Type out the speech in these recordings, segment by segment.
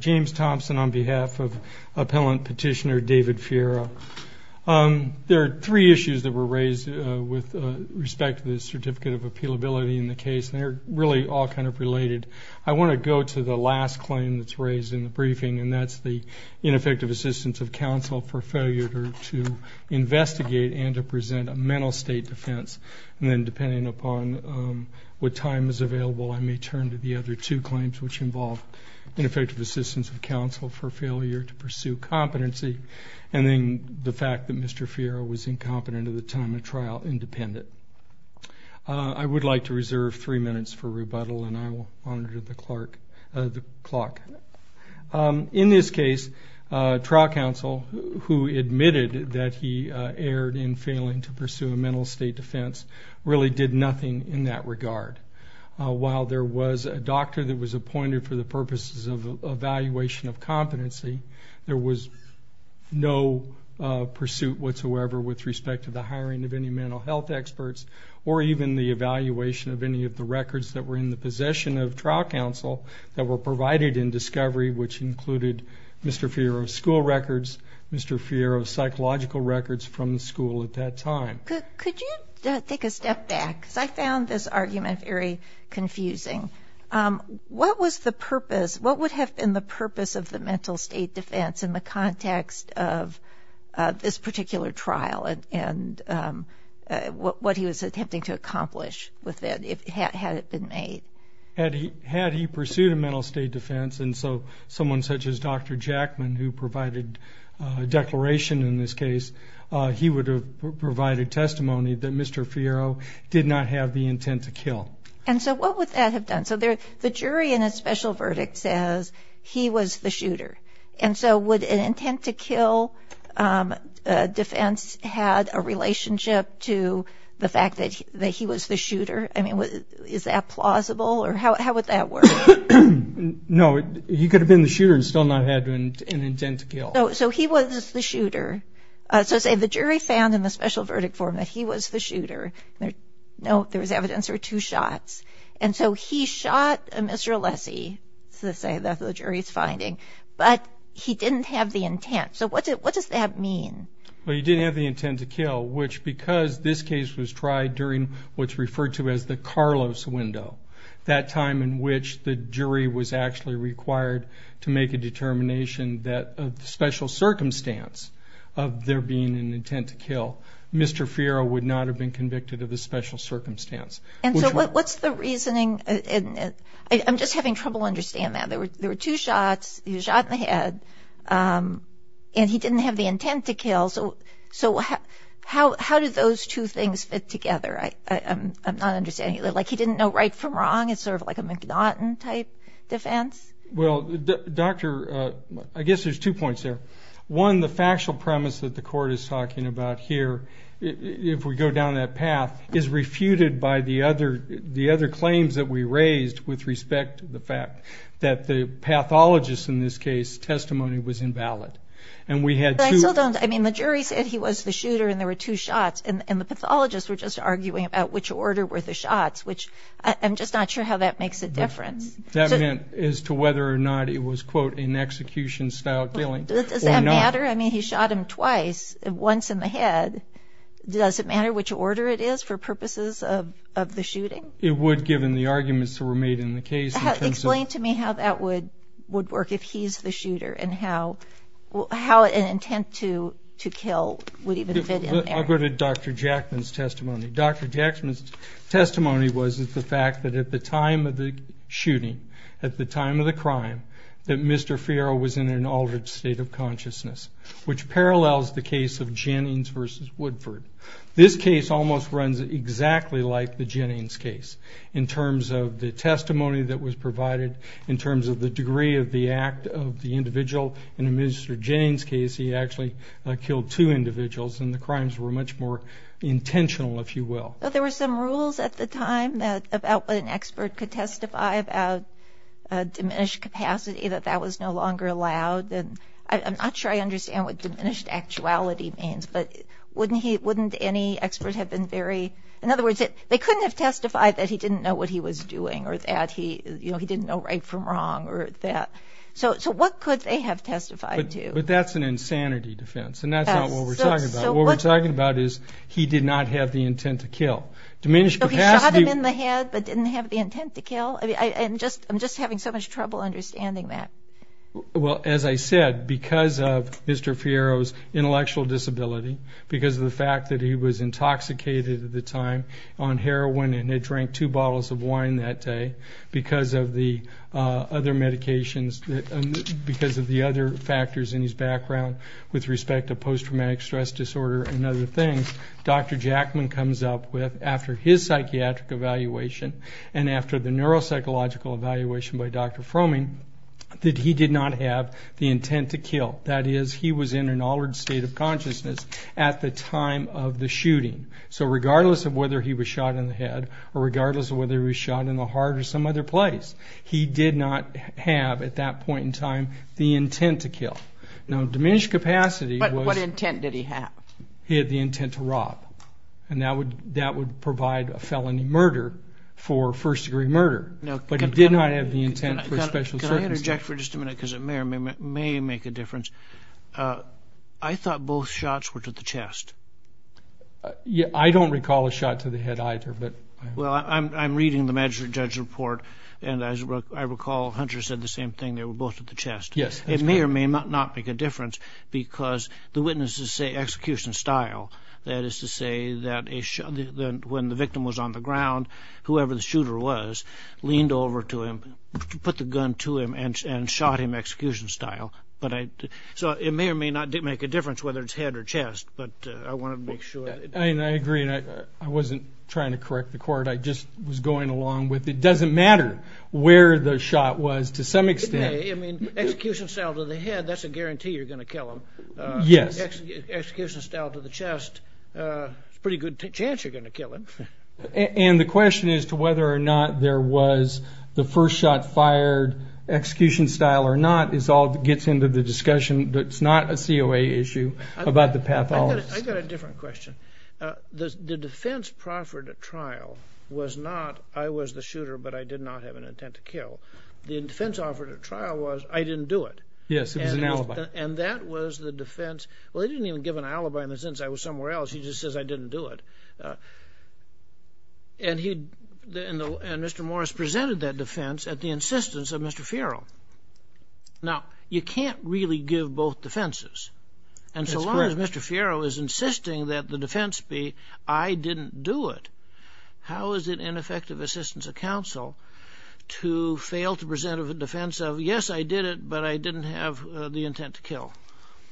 James Thompson, on behalf of Appellant Petitioner David Fierro, there are three issues that were raised with respect to the Certificate of Appealability in the case, and they're really all kind of related. I want to go to the last claim that's raised in the briefing, and that's the ineffective assistance of counsel for failure to investigate and to present a mental state defense. And then, depending upon what time is available, I may turn to the other two claims, which involve ineffective assistance of counsel for failure to pursue competency, and then the fact that Mr. Fierro was incompetent at the time of trial, independent. I would like to reserve three minutes for rebuttal, and I will monitor the clock. In this case, trial counsel who admitted that he erred in failing to pursue a mental state defense really did nothing in that regard. While there was a doctor that was appointed for the purposes of evaluation of competency, there was no pursuit whatsoever with respect to the hiring of any mental health experts, or even the evaluation of any of the records that were in the possession of trial counsel that were provided in discovery, which included Mr. Fierro's school records, Mr. Fierro's psychological records from the school at that time. Could you take a step back, because I found this argument very confusing. What was the purpose, what would have been the purpose of the mental state defense in the context of this particular trial and what he was attempting to accomplish with it, had it been made? Had he pursued a mental state defense, and so someone such as Dr. Jackman, who provided a declaration in this case, he would have provided testimony that Mr. Fierro did not have the intent to kill. No, he could have been the shooter and still not had an intent to kill. So he was the shooter. So say the jury found in the special verdict form that he was the shooter. No, there was evidence there were two shots. And so he shot Mr. Alessi, so to say, that the jury is finding, but he didn't have the intent. So what does that mean? Well, he didn't have the intent to kill, which because this case was tried during what's referred to as the Carlos window, that time in which the jury was actually required to make a determination that a special circumstance of there being an intent to kill, Mr. Fierro would not have been convicted of a special circumstance. And so what's the reasoning? I'm just having trouble understanding that. There were two shots. He was shot in the head, and he didn't have the intent to kill. So how did those two things fit together? I'm not understanding. Like he didn't know right from wrong? It's sort of like a McNaughton type defense? Well, Doctor, I guess there's two points there. One, the factual premise that the court is talking about here, if we go down that path, is refuted by the other claims that we raised with respect to the fact that the pathologist in this case' testimony was invalid. And we had two... But I still don't... I mean, the jury said he was the shooter and there were two shots, and the pathologists were just arguing about which order were the shots, which I'm just not sure how that makes a difference. That meant as to whether or not it was, quote, an execution-style killing or not. Does that matter? I mean, he shot him twice, once in the head. Does it matter which order it is for purposes of the shooting? It would, given the arguments that were made in the case in terms of... Explain to me how that would work if he's the shooter and how an intent to kill would even fit in there. I'll go to Dr. Jackman's testimony. Dr. Jackman's testimony was the fact that at the time of the shooting, at the time of the crime, that Mr. Fierro was in an altered state of consciousness, which parallels the case of Jennings v. Woodford. This case almost runs exactly like the Jennings case in terms of the testimony that was provided, in terms of the degree of the act of the individual. In Mr. Jennings' case, he actually killed two individuals, and the crimes were much more intentional, if you will. There were some rules at the time about what an expert could testify about diminished capacity, that that was no longer allowed. I'm not sure I understand what diminished actuality means, but wouldn't any expert have been very... In other words, they couldn't have testified that he didn't know what he was doing or that he didn't know right from wrong or that. So what could they have testified to? But that's an insanity defense, and that's not what we're talking about. What we're talking about is he did not have the intent to kill. So he shot him in the head but didn't have the intent to kill? I'm just having so much trouble understanding that. Well, as I said, because of Mr. Fierro's intellectual disability, because of the fact that he was intoxicated at the time on heroin and had drank two bottles of wine that day, because of the other medications, because of the other factors in his background with respect to post-traumatic stress disorder and other things, Dr. Jackman comes up with, after his psychiatric evaluation and after the neuropsychological evaluation by Dr. Fromming, that he did not have the intent to kill. That is, he was in an altered state of consciousness at the time of the shooting. So regardless of whether he was shot in the head or regardless of whether he was shot in the heart or some other place, he did not have, at that point in time, the intent to kill. Now, diminished capacity was... But what intent did he have? He had the intent to rob, and that would provide a felony murder for first-degree murder. But he did not have the intent for special circumstances. Can I interject for just a minute because it may or may make a difference? I thought both shots were to the chest. I don't recall a shot to the head either. Well, I'm reading the magistrate judge report, and as I recall, Hunter said the same thing. They were both to the chest. Yes. It may or may not make a difference because the witnesses say execution style. That is to say that when the victim was on the ground, whoever the shooter was leaned over to him, put the gun to him, and shot him execution style. So it may or may not make a difference whether it's head or chest, but I wanted to make sure. I agree, and I wasn't trying to correct the court. I just was going along with it. It doesn't matter where the shot was to some extent. It may. I mean, execution style to the head, that's a guarantee you're going to kill him. Yes. Execution style to the chest, there's a pretty good chance you're going to kill him. And the question as to whether or not there was the first shot fired execution style or not gets into the discussion. It's not a COA issue about the pathology. I've got a different question. The defense proffered at trial was not I was the shooter, but I did not have an intent to kill. The defense offered at trial was I didn't do it. Yes, it was an alibi. And that was the defense. Well, they didn't even give an alibi in the sense I was somewhere else. He just says I didn't do it. And Mr. Morris presented that defense at the insistence of Mr. Fierro. Now, you can't really give both defenses. And so long as Mr. Fierro is insisting that the defense be I didn't do it, how is it ineffective assistance of counsel to fail to present a defense of yes, I did it, but I didn't have the intent to kill?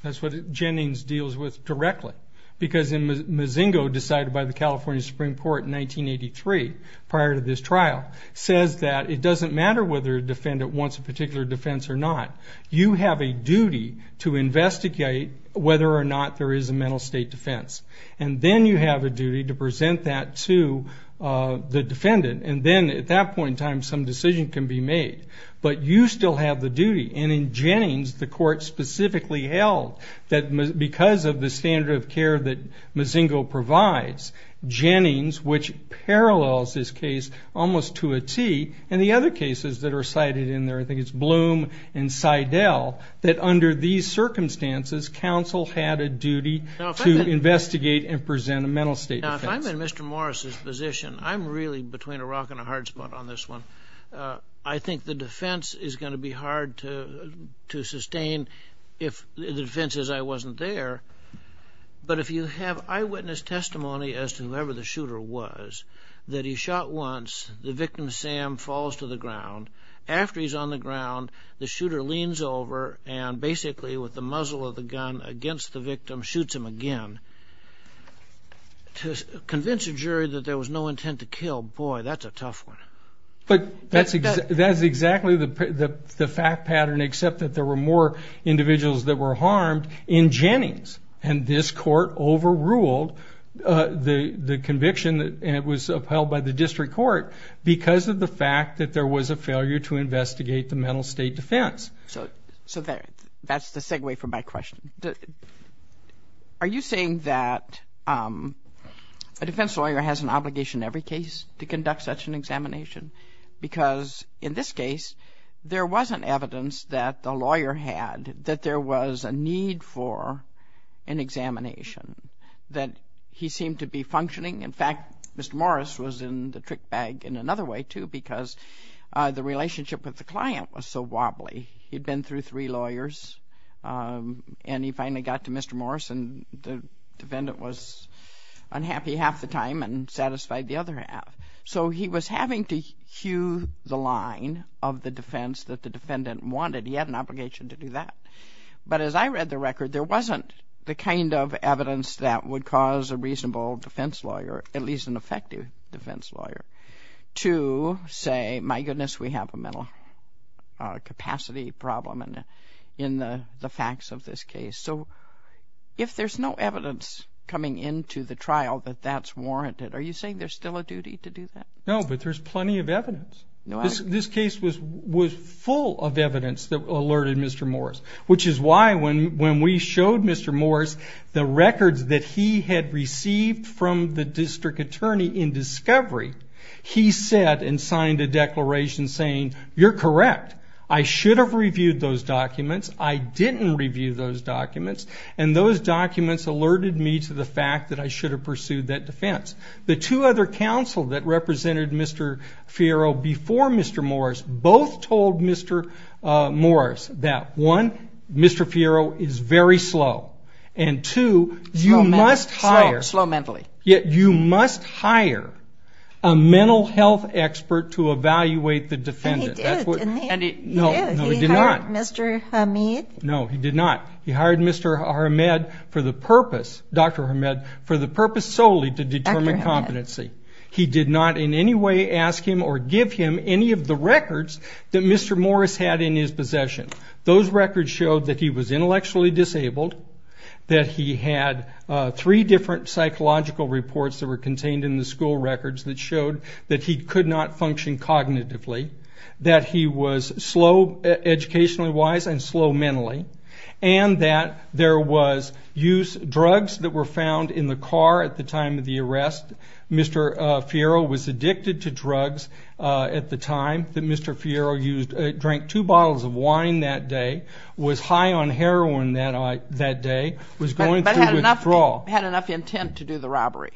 That's what Jennings deals with directly. Because Mozingo, decided by the California Supreme Court in 1983 prior to this trial, says that it doesn't matter whether a defendant wants a particular defense or not. You have a duty to investigate whether or not there is a mental state defense. And then you have a duty to present that to the defendant. And then at that point in time, some decision can be made. But you still have the duty. And in Jennings, the court specifically held that because of the standard of care that Mozingo provides, Jennings, which parallels this case almost to a T, and the other cases that are cited in there, I think it's Bloom and Seidel, that under these circumstances, counsel had a duty to investigate and present a mental state defense. Now, if I'm in Mr. Morris's position, I'm really between a rock and a hard spot on this one. I think the defense is going to be hard to sustain if the defense is I wasn't there. But if you have eyewitness testimony as to whoever the shooter was, that he shot once, the victim, Sam, falls to the ground. After he's on the ground, the shooter leans over and basically, with the muzzle of the gun against the victim, shoots him again. To convince a jury that there was no intent to kill, boy, that's a tough one. But that's exactly the fact pattern, except that there were more individuals that were harmed in Jennings. And this court overruled the conviction, and it was upheld by the district court, because of the fact that there was a failure to investigate the mental state defense. So that's the segue for my question. Are you saying that a defense lawyer has an obligation in every case to conduct such an examination? Because in this case, there wasn't evidence that the lawyer had, that there was a need for an examination, that he seemed to be functioning. In fact, Mr. Morris was in the trick bag in another way, too, because the relationship with the client was so wobbly. He'd been through three lawyers, and he finally got to Mr. Morris, and the defendant was unhappy half the time and satisfied the other half. So he was having to cue the line of the defense that the defendant wanted. He had an obligation to do that. But as I read the record, there wasn't the kind of evidence that would cause a reasonable defense lawyer, at least an effective defense lawyer, to say, my goodness, we have a mental capacity problem in the facts of this case. So if there's no evidence coming into the trial that that's warranted, are you saying there's still a duty to do that? No, but there's plenty of evidence. This case was full of evidence that alerted Mr. Morris, which is why when we showed Mr. Morris the records that he had received from the district attorney in discovery, he said and signed a declaration saying, you're correct, I should have reviewed those documents. I didn't review those documents, and those documents alerted me to the fact that I should have pursued that defense. The two other counsel that represented Mr. Fiero before Mr. Morris both told Mr. Morris that one, Mr. Fiero is very slow, and two, you must hire a mental health expert to evaluate the defendant. And he did, didn't he? No, no, he did not. He hired Mr. Hamed? No, he did not. He hired Mr. Hamed for the purpose, Dr. Hamed, for the purpose solely to determine competency. He did not in any way ask him or give him any of the records that Mr. Morris had in his possession. Those records showed that he was intellectually disabled, that he had three different psychological reports that were contained in the school records that showed that he could not function cognitively, that he was slow educationally wise and slow mentally, and that there was use drugs that were found in the car at the time of the arrest. Mr. Fiero was addicted to drugs at the time that Mr. Fiero drank two bottles of wine that day, was high on heroin that day, was going through withdrawal. But had enough intent to do the robbery.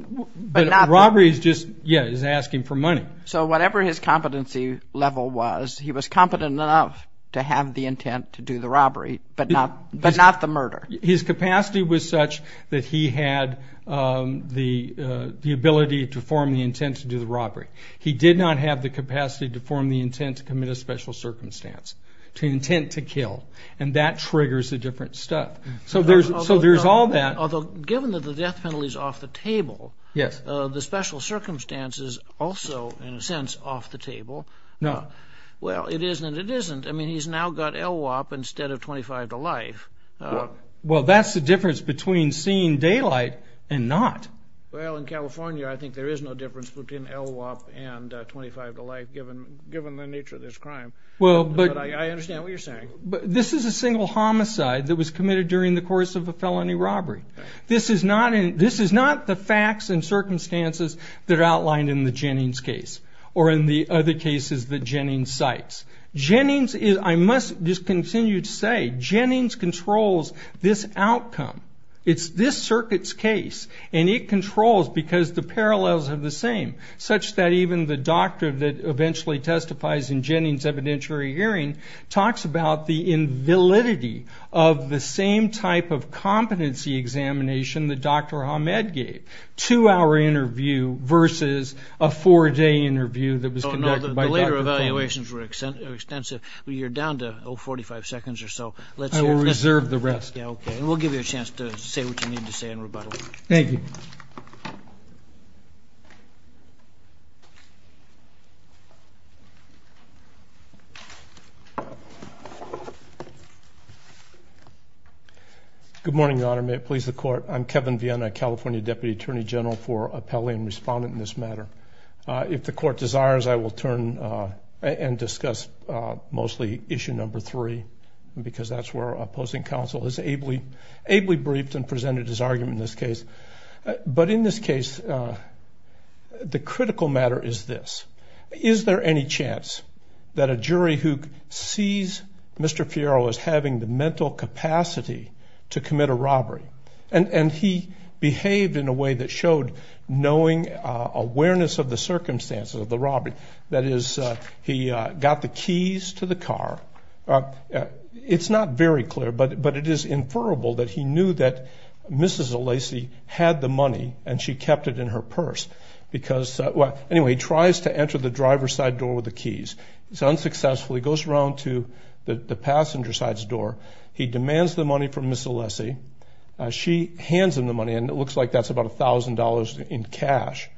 But robbery is just, yes, is asking for money. So whatever his competency level was, he was competent enough to have the intent to do the robbery, but not the murder. His capacity was such that he had the ability to form the intent to do the robbery. He did not have the capacity to form the intent to commit a special circumstance, to intent to kill. And that triggers the different stuff. So there's all that. Although given that the death penalty is off the table, the special circumstance is also, in a sense, off the table. No. Well, it is and it isn't. I mean, he's now got LWOP instead of 25 to life. Well, that's the difference between seeing daylight and not. Well, in California, I think there is no difference between LWOP and 25 to life, given the nature of this crime. But I understand what you're saying. This is a single homicide that was committed during the course of a felony robbery. This is not the facts and circumstances that are outlined in the Jennings case, or in the other cases that Jennings cites. I must just continue to say Jennings controls this outcome. It's this circuit's case. And it controls because the parallels are the same, such that even the doctor that eventually testifies in Jennings' evidentiary hearing talks about the invalidity of the same type of competency examination that Dr. Ahmed gave, two-hour interview versus a four-day interview that was conducted by Dr. Coleman. Your later evaluations were extensive. You're down to 45 seconds or so. I will reserve the rest. Okay. And we'll give you a chance to say what you need to say in rebuttal. Thank you. Good morning, Your Honor. May it please the Court. I'm Kevin Viena, California Deputy Attorney General, for appellee and respondent in this matter. If the Court desires, I will turn and discuss mostly issue number three, because that's where opposing counsel has ably briefed and presented his argument in this case. But in this case, the critical matter is this. Is there any chance that a jury who sees Mr. Fierro as having the mental capacity to commit a robbery, and he behaved in a way that showed knowing awareness of the circumstances of the robbery, that is, he got the keys to the car. It's not very clear, but it is inferrable that he knew that Mrs. Alessi had the money and she kept it in her purse because he tries to enter the driver's side door with the keys. He's unsuccessful. He goes around to the passenger side's door. He demands the money from Mrs. Alessi. She hands him the money, and it looks like that's about $1,000 in cash.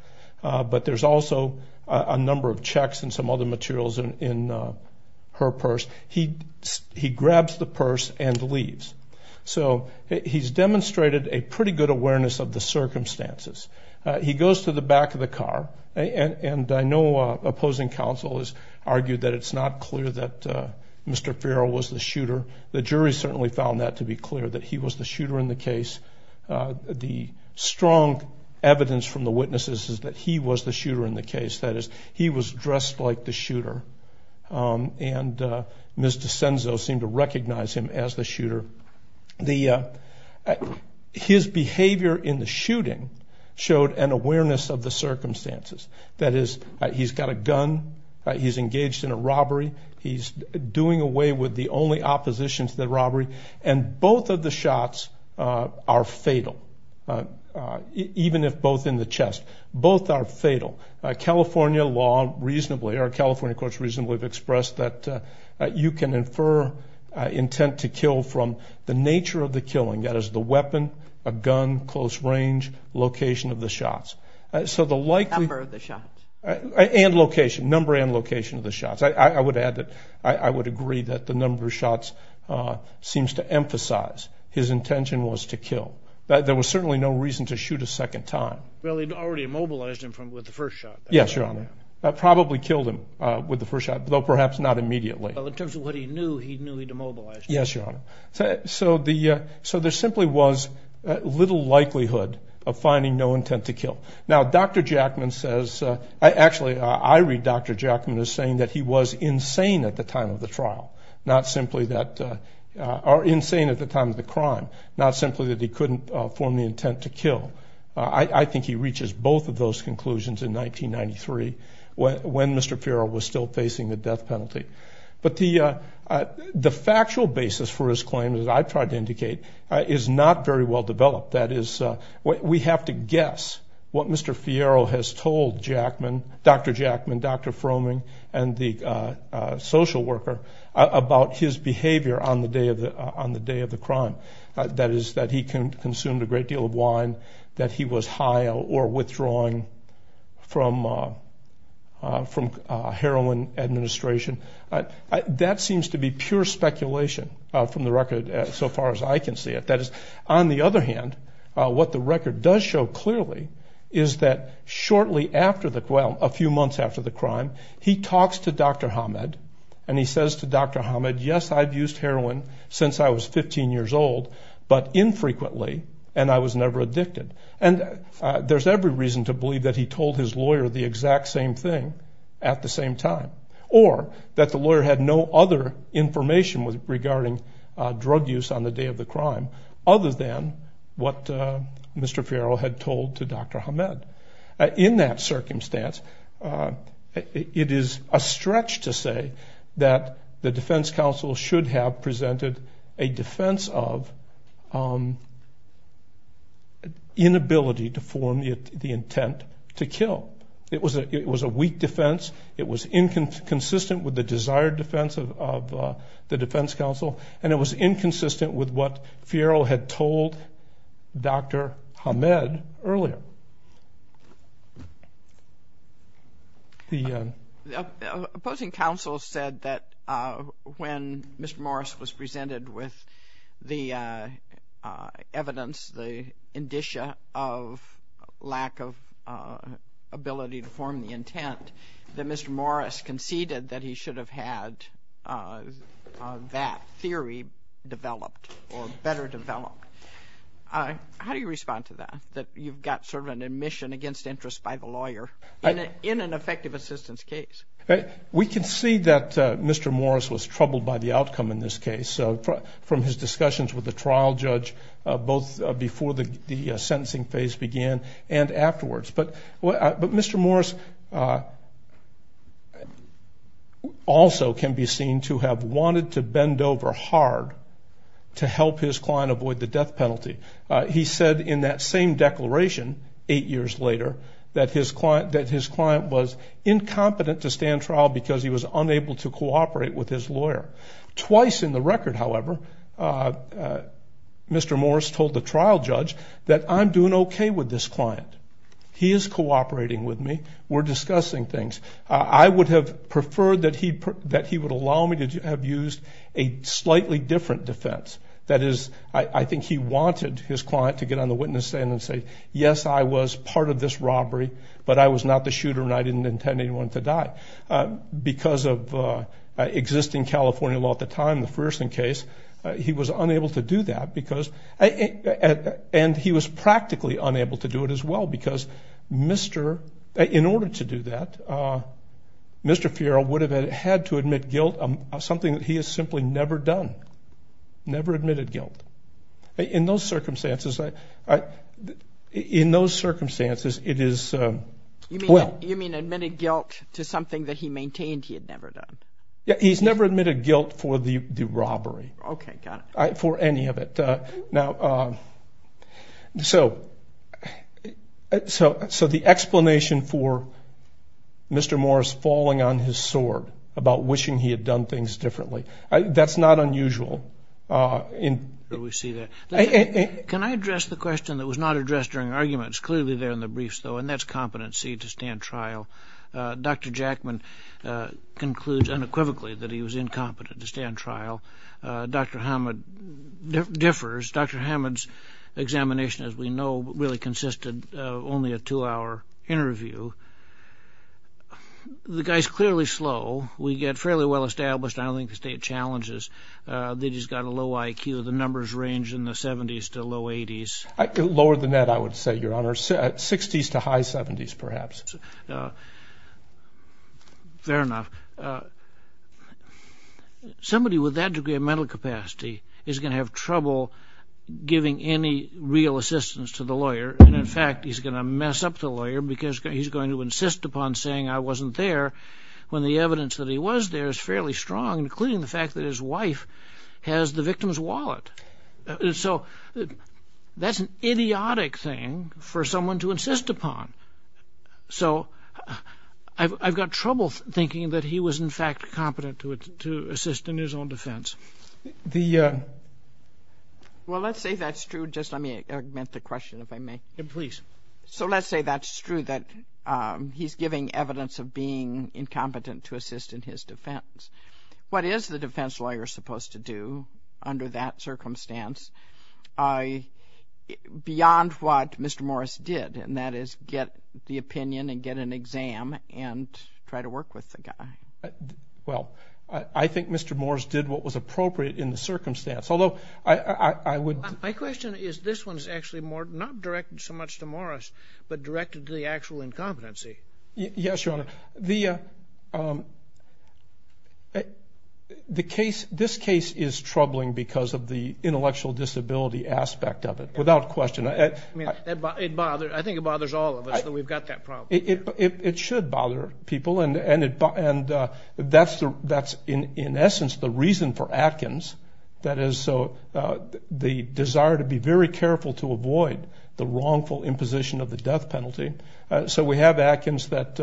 But there's also a number of checks and some other materials in her purse. He grabs the purse and leaves. So he's demonstrated a pretty good awareness of the circumstances. He goes to the back of the car, and I know opposing counsel has argued that it's not clear that Mr. Fierro was the shooter. The jury certainly found that to be clear, that he was the shooter in the case. The strong evidence from the witnesses is that he was the shooter in the case. That is, he was dressed like the shooter, and Ms. DiCenzo seemed to recognize him as the shooter. His behavior in the shooting showed an awareness of the circumstances, that is, he's got a gun, he's engaged in a robbery, he's doing away with the only opposition to the robbery, and both of the shots are fatal, even if both in the chest. Both are fatal. California law reasonably, or California courts reasonably, have expressed that you can infer intent to kill from the nature of the killing, that is, the weapon, a gun, close range, location of the shots. Number of the shots. And location, number and location of the shots. I would add that I would agree that the number of shots seems to emphasize his intention was to kill. There was certainly no reason to shoot a second time. Well, he'd already immobilized him with the first shot. Yes, Your Honor. That probably killed him with the first shot, though perhaps not immediately. Well, in terms of what he knew, he knew he'd immobilized him. Yes, Your Honor. So there simply was little likelihood of finding no intent to kill. Now, Dr. Jackman says, actually, I read Dr. Jackman as saying that he was insane at the time of the trial, not simply that, or insane at the time of the crime, not simply that he couldn't form the intent to kill. I think he reaches both of those conclusions in 1993, when Mr. Farrell was still facing the death penalty. But the factual basis for his claim, as I've tried to indicate, is not very well developed. That is, we have to guess what Mr. Farrell has told Dr. Jackman, Dr. Fromming, and the social worker, about his behavior on the day of the crime. That is, that he consumed a great deal of wine, that he was high or withdrawing from heroin administration. That seems to be pure speculation from the record, so far as I can see it. That is, on the other hand, what the record does show clearly is that shortly after the, well, a few months after the crime, he talks to Dr. Hamed, and he says to Dr. Hamed, yes, I've used heroin since I was 15 years old, but infrequently, and I was never addicted. And there's every reason to believe that he told his lawyer the exact same thing at the same time, or that the lawyer had no other information regarding drug use on the day of the crime, other than what Mr. Farrell had told to Dr. Hamed. In that circumstance, it is a stretch to say that the defense counsel should have presented a defense of inability to form the intent to kill. It was a weak defense. It was inconsistent with the desired defense of the defense counsel, and it was inconsistent with what Farrell had told Dr. Hamed earlier. The opposing counsel said that when Mr. Morris was presented with the evidence, the indicia of lack of ability to form the intent, that Mr. Morris conceded that he should have had that theory developed or better developed. How do you respond to that? That you've got sort of an admission against interest by the lawyer in an effective assistance case. We can see that Mr. Morris was troubled by the outcome in this case from his discussions with the trial judge, both before the sentencing phase began and afterwards. But Mr. Morris also can be seen to have wanted to bend over hard to help his client avoid the death penalty. He said in that same declaration eight years later that his client was incompetent to stand trial because he was unable to cooperate with his lawyer. Twice in the record, however, Mr. Morris told the trial judge that, I'm doing okay with this client. He is cooperating with me. We're discussing things. I would have preferred that he would allow me to have used a slightly different defense. That is, I think he wanted his client to get on the witness stand and say, yes, I was part of this robbery, but I was not the shooter and I didn't intend anyone to die. Because of existing California law at the time, the Frierson case, he was unable to do that. And he was practically unable to do it as well because in order to do that, Mr. Fierro would have had to admit guilt of something that he has simply never done, never admitted guilt. In those circumstances, it is well. You mean admitted guilt to something that he maintained he had never done? He's never admitted guilt for the robbery, for any of it. Now, so the explanation for Mr. Morris falling on his sword about wishing he had done things differently, that's not unusual. We see that. Can I address the question that was not addressed during the argument? It's clearly there in the briefs, though, and that's competency to stand trial. Dr. Jackman concludes unequivocally that he was incompetent to stand trial. Dr. Hammond differs. Dr. Hammond's examination, as we know, really consisted of only a two-hour interview. The guy's clearly slow. We get fairly well established. I don't think the state challenges that he's got a low IQ. The numbers range in the 70s to low 80s. Lower than that, I would say, Your Honor, 60s to high 70s, perhaps. Fair enough. Somebody with that degree of mental capacity is going to have trouble giving any real assistance to the lawyer. And, in fact, he's going to mess up the lawyer because he's going to insist upon saying, I wasn't there, when the evidence that he was there is fairly strong, including the fact that his wife has the victim's wallet. So that's an idiotic thing for someone to insist upon. So I've got trouble thinking that he was, in fact, competent to assist in his own defense. Well, let's say that's true. Just let me augment the question, if I may. Please. So let's say that's true, that he's giving evidence of being incompetent to assist in his defense. What is the defense lawyer supposed to do under that circumstance beyond what Mr. Morris did, and that is get the opinion and get an exam and try to work with the guy? Well, I think Mr. Morris did what was appropriate in the circumstance, although I would ---- My question is, this one is actually not directed so much to Morris, but directed to the actual incompetency. Yes, Your Honor. This case is troubling because of the intellectual disability aspect of it, without question. I think it bothers all of us that we've got that problem. It should bother people, and that's, in essence, the reason for Atkins, that is the desire to be very careful to avoid the wrongful imposition of the death penalty. So we have Atkins that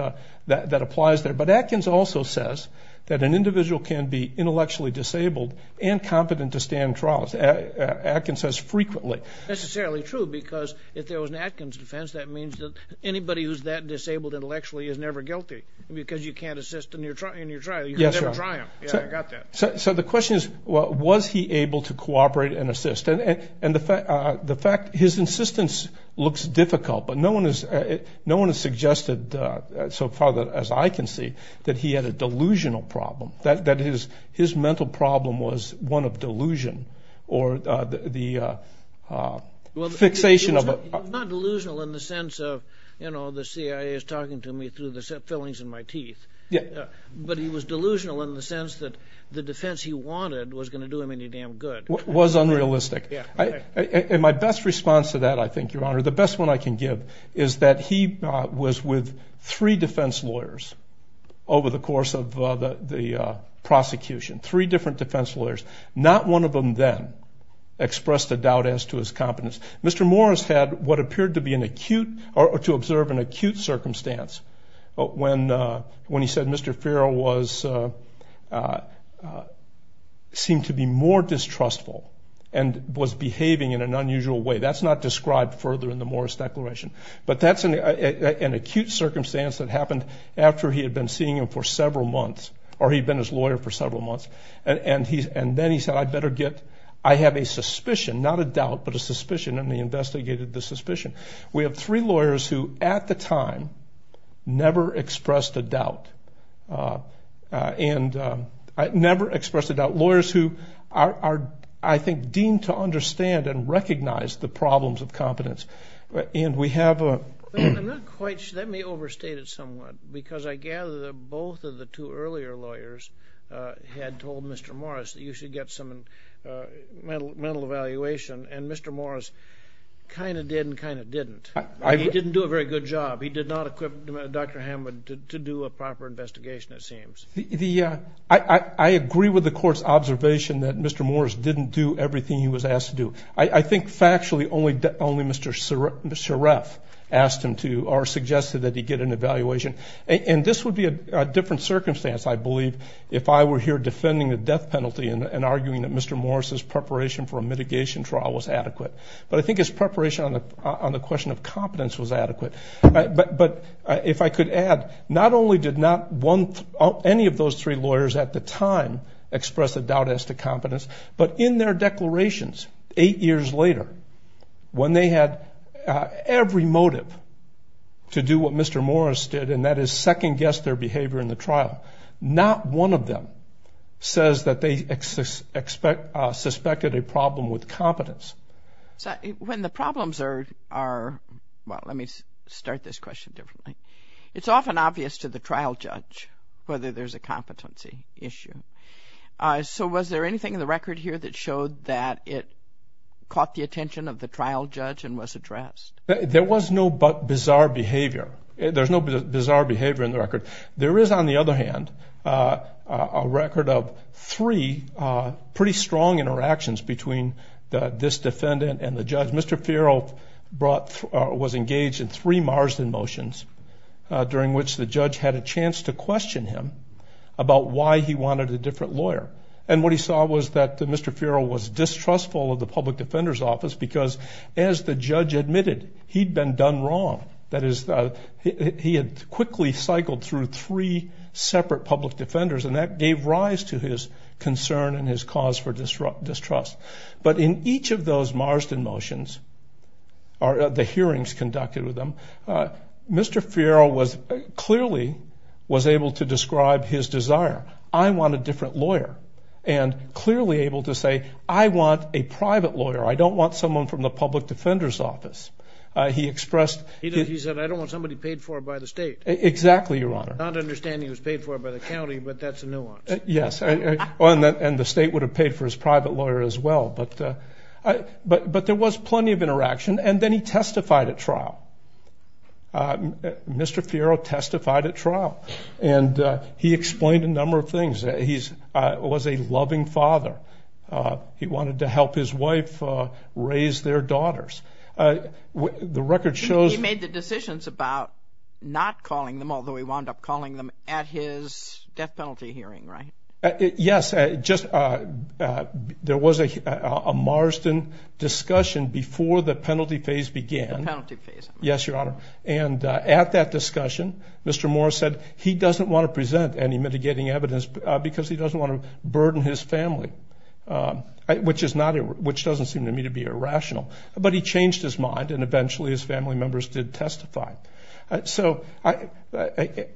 applies there. But Atkins also says that an individual can be intellectually disabled and competent to stand trials. Atkins says frequently. That's not necessarily true because if there was an Atkins defense, that means that anybody who's that disabled intellectually is never guilty because you can't assist in your trial. You can never try them. Yeah, I got that. So the question is, was he able to cooperate and assist? And the fact his insistence looks difficult, but no one has suggested so far as I can see that he had a delusional problem, that his mental problem was one of delusion or the fixation of a... Well, he was not delusional in the sense of, you know, the CIA is talking to me through the fillings in my teeth. Yeah. But he was delusional in the sense that the defense he wanted was going to do him any damn good. Was unrealistic. Yeah. And my best response to that, I think, Your Honor, the best one I can give is that he was with three defense lawyers over the course of the prosecution, three different defense lawyers. Not one of them then expressed a doubt as to his competence. Mr. Morris had what appeared to be an acute or to observe an acute circumstance when he said Mr. Farrell seemed to be more distrustful and was behaving in an unusual way. That's not described further in the Morris Declaration. But that's an acute circumstance that happened after he had been seeing him for several months or he'd been his lawyer for several months. And then he said I better get, I have a suspicion, not a doubt, but a suspicion, and he investigated the suspicion. We have three lawyers who at the time never expressed a doubt. And never expressed a doubt. Lawyers who are, I think, deemed to understand and recognize the problems of competence. And we have a ---- I'm not quite sure. Let me overstate it somewhat because I gather that both of the two earlier lawyers had told Mr. Morris that you should get some mental evaluation, and Mr. Morris kind of did and kind of didn't. He didn't do a very good job. He did not equip Dr. Hammond to do a proper investigation, it seems. I agree with the court's observation that Mr. Morris didn't do everything he was asked to do. I think factually only Mr. Shereff asked him to or suggested that he get an evaluation. And this would be a different circumstance, I believe, if I were here defending the death penalty and arguing that Mr. Morris's preparation for a mitigation trial was adequate. But I think his preparation on the question of competence was adequate. But if I could add, not only did not any of those three lawyers at the time express a doubt as to competence, but in their declarations eight years later, when they had every motive to do what Mr. Morris did, and that is second-guess their behavior in the trial, not one of them says that they suspected a problem with competence. When the problems are, well, let me start this question differently. It's often obvious to the trial judge whether there's a competency issue. So was there anything in the record here that showed that it caught the attention of the trial judge and was addressed? There was no bizarre behavior. There's no bizarre behavior in the record. There is, on the other hand, a record of three pretty strong interactions between this defendant and the judge. Mr. Farrell was engaged in three Marsden motions, during which the judge had a chance to question him about why he wanted a different lawyer. And what he saw was that Mr. Farrell was distrustful of the public defender's office because, as the judge admitted, he'd been done wrong. That is, he had quickly cycled through three separate public defenders, and that gave rise to his concern and his cause for distrust. But in each of those Marsden motions, the hearings conducted with them, Mr. Farrell clearly was able to describe his desire. I want a different lawyer, and clearly able to say, I want a private lawyer. I don't want someone from the public defender's office. He said, I don't want somebody paid for by the state. Exactly, Your Honor. Not understanding he was paid for by the county, but that's a nuance. Yes, and the state would have paid for his private lawyer as well. But there was plenty of interaction, and then he testified at trial. Mr. Farrell testified at trial, and he explained a number of things. He was a loving father. He wanted to help his wife raise their daughters. The record shows. He made the decisions about not calling them, although he wound up calling them at his death penalty hearing, right? Yes, just there was a Marsden discussion before the penalty phase began. The penalty phase. Yes, Your Honor. And at that discussion, Mr. Moore said he doesn't want to present any mitigating evidence because he doesn't want to burden his family, which doesn't seem to me to be irrational. But he changed his mind, and eventually his family members did testify. So it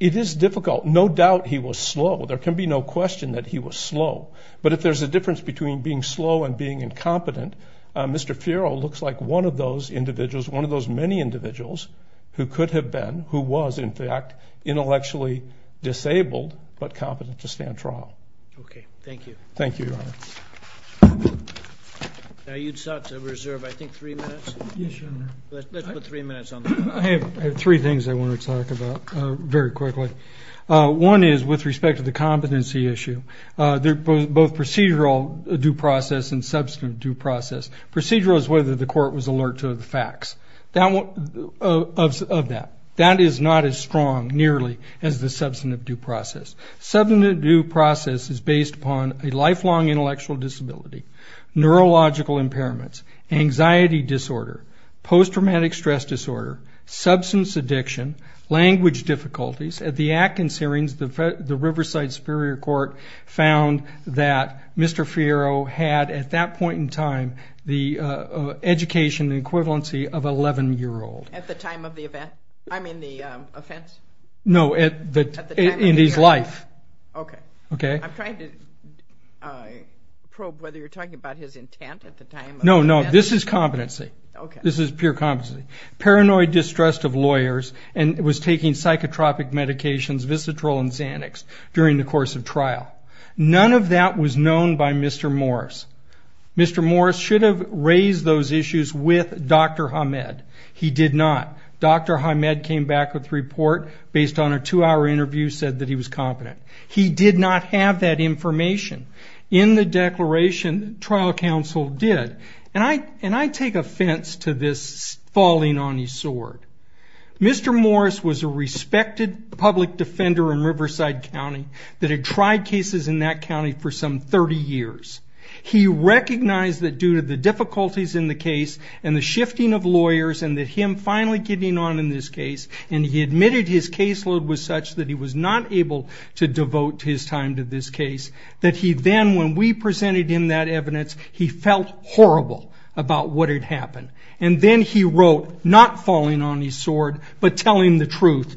is difficult. No doubt he was slow. There can be no question that he was slow. But if there's a difference between being slow and being incompetent, Mr. Farrell looks like one of those individuals, one of those many individuals who could have been, who was, in fact, intellectually disabled but competent to stand trial. Okay. Thank you. Thank you, Your Honor. Now you sought to reserve, I think, three minutes. Yes, Your Honor. Let's put three minutes on the clock. I have three things I want to talk about very quickly. One is with respect to the competency issue. Both procedural due process and substantive due process. Procedural is whether the court was alert to the facts of that. That is not as strong, nearly, as the substantive due process. Substantive due process is based upon a lifelong intellectual disability, neurological impairments, anxiety disorder, post-traumatic stress disorder, substance addiction, language difficulties. At the Atkins hearings, the Riverside Superior Court found that Mr. Farrell had, at that point in time, the education equivalency of 11-year-old. At the time of the event? I mean the offense? No, in his life. Okay. Okay. I'm trying to probe whether you're talking about his intent at the time of the event. No, no, this is competency. This is pure competency. Paranoid distrust of lawyers and was taking psychotropic medications, Visitrol and Xanax, during the course of trial. None of that was known by Mr. Morris. Mr. Morris should have raised those issues with Dr. Hamed. He did not. Dr. Hamed came back with a report based on a two-hour interview, said that he was competent. He did not have that information. In the declaration, trial counsel did. And I take offense to this falling on his sword. Mr. Morris was a respected public defender in Riverside County that had tried cases in that county for some 30 years. He recognized that due to the difficulties in the case and the shifting of lawyers and that him finally getting on in this case, and he admitted his caseload was such that he was not able to devote his time to this case, that he then, when we presented him that evidence, he felt horrible about what had happened. And then he wrote, not falling on his sword, but telling the truth.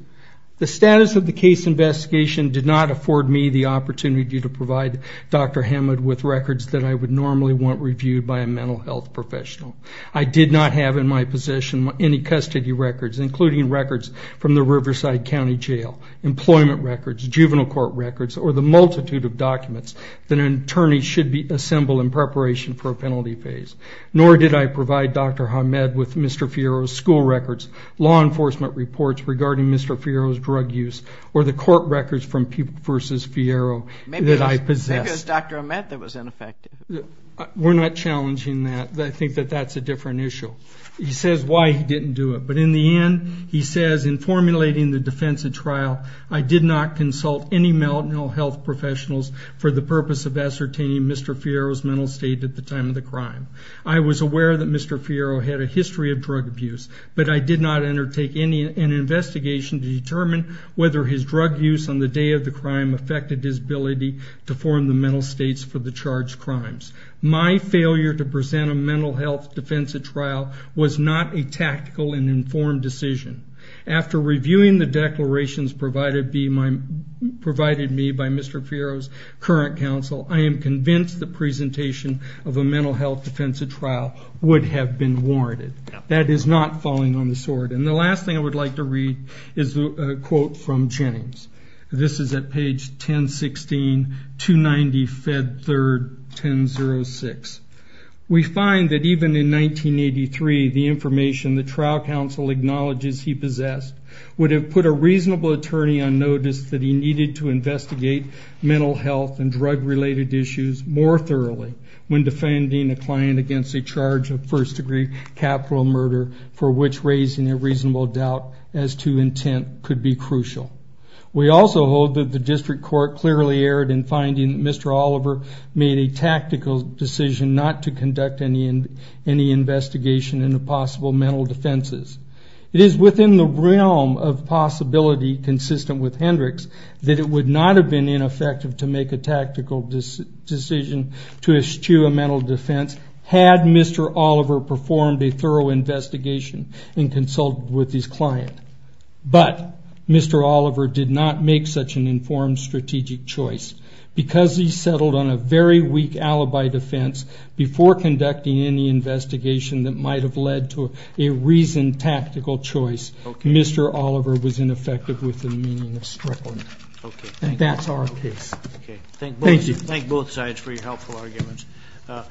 The status of the case investigation did not afford me the opportunity to provide Dr. Hamed with records that I would normally want reviewed by a mental health professional. I did not have in my possession any custody records, including records from the Riverside County Jail, employment records, juvenile court records, or the multitude of documents that an attorney should assemble in preparation for a penalty phase. Nor did I provide Dr. Hamed with Mr. Fierro's school records, law enforcement reports regarding Mr. Fierro's drug use, or the court records from versus Fierro that I possessed. Maybe it was Dr. Hamed that was ineffective. We're not challenging that. I think that that's a different issue. He says why he didn't do it. But in the end, he says, in formulating the defense at trial, I did not consult any mental health professionals for the purpose of ascertaining Mr. Fierro's mental state at the time of the crime. I was aware that Mr. Fierro had a history of drug abuse, but I did not undertake any investigation to determine whether his drug use on the day of the crime affected his ability to form the mental states for the charged crimes. My failure to present a mental health defense at trial was not a tactical and informed decision. After reviewing the declarations provided me by Mr. Fierro's current counsel, I am convinced the presentation of a mental health defense at trial would have been warranted. That is not falling on the sword. And the last thing I would like to read is a quote from Jennings. This is at page 1016, 290, Fed 3rd, 1006. We find that even in 1983, the information the trial counsel acknowledges he possessed would have put a reasonable attorney on notice that he needed to investigate mental health and drug-related issues more thoroughly when defending a client against a charge of first-degree capital murder, for which raising a reasonable doubt as to intent could be crucial. We also hold that the district court clearly erred in finding that Mr. Oliver made a tactical decision not to conduct any investigation into possible mental defenses. It is within the realm of possibility consistent with Hendricks that it would not have been ineffective to make a tactical decision to eschew a mental defense had Mr. Oliver performed a thorough investigation and consulted with his client. But Mr. Oliver did not make such an informed strategic choice. Because he settled on a very weak alibi defense before conducting any investigation that might have led to a reasoned tactical choice, Mr. Oliver was ineffective with the meaning of strickland. That's our case. Thank you. I'd like to thank both sides for your helpful arguments. Fioro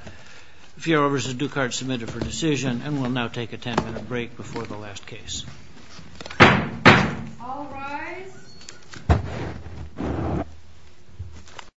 v. Ducard submitted for decision, and we'll now take a ten-minute break before the last case. All rise.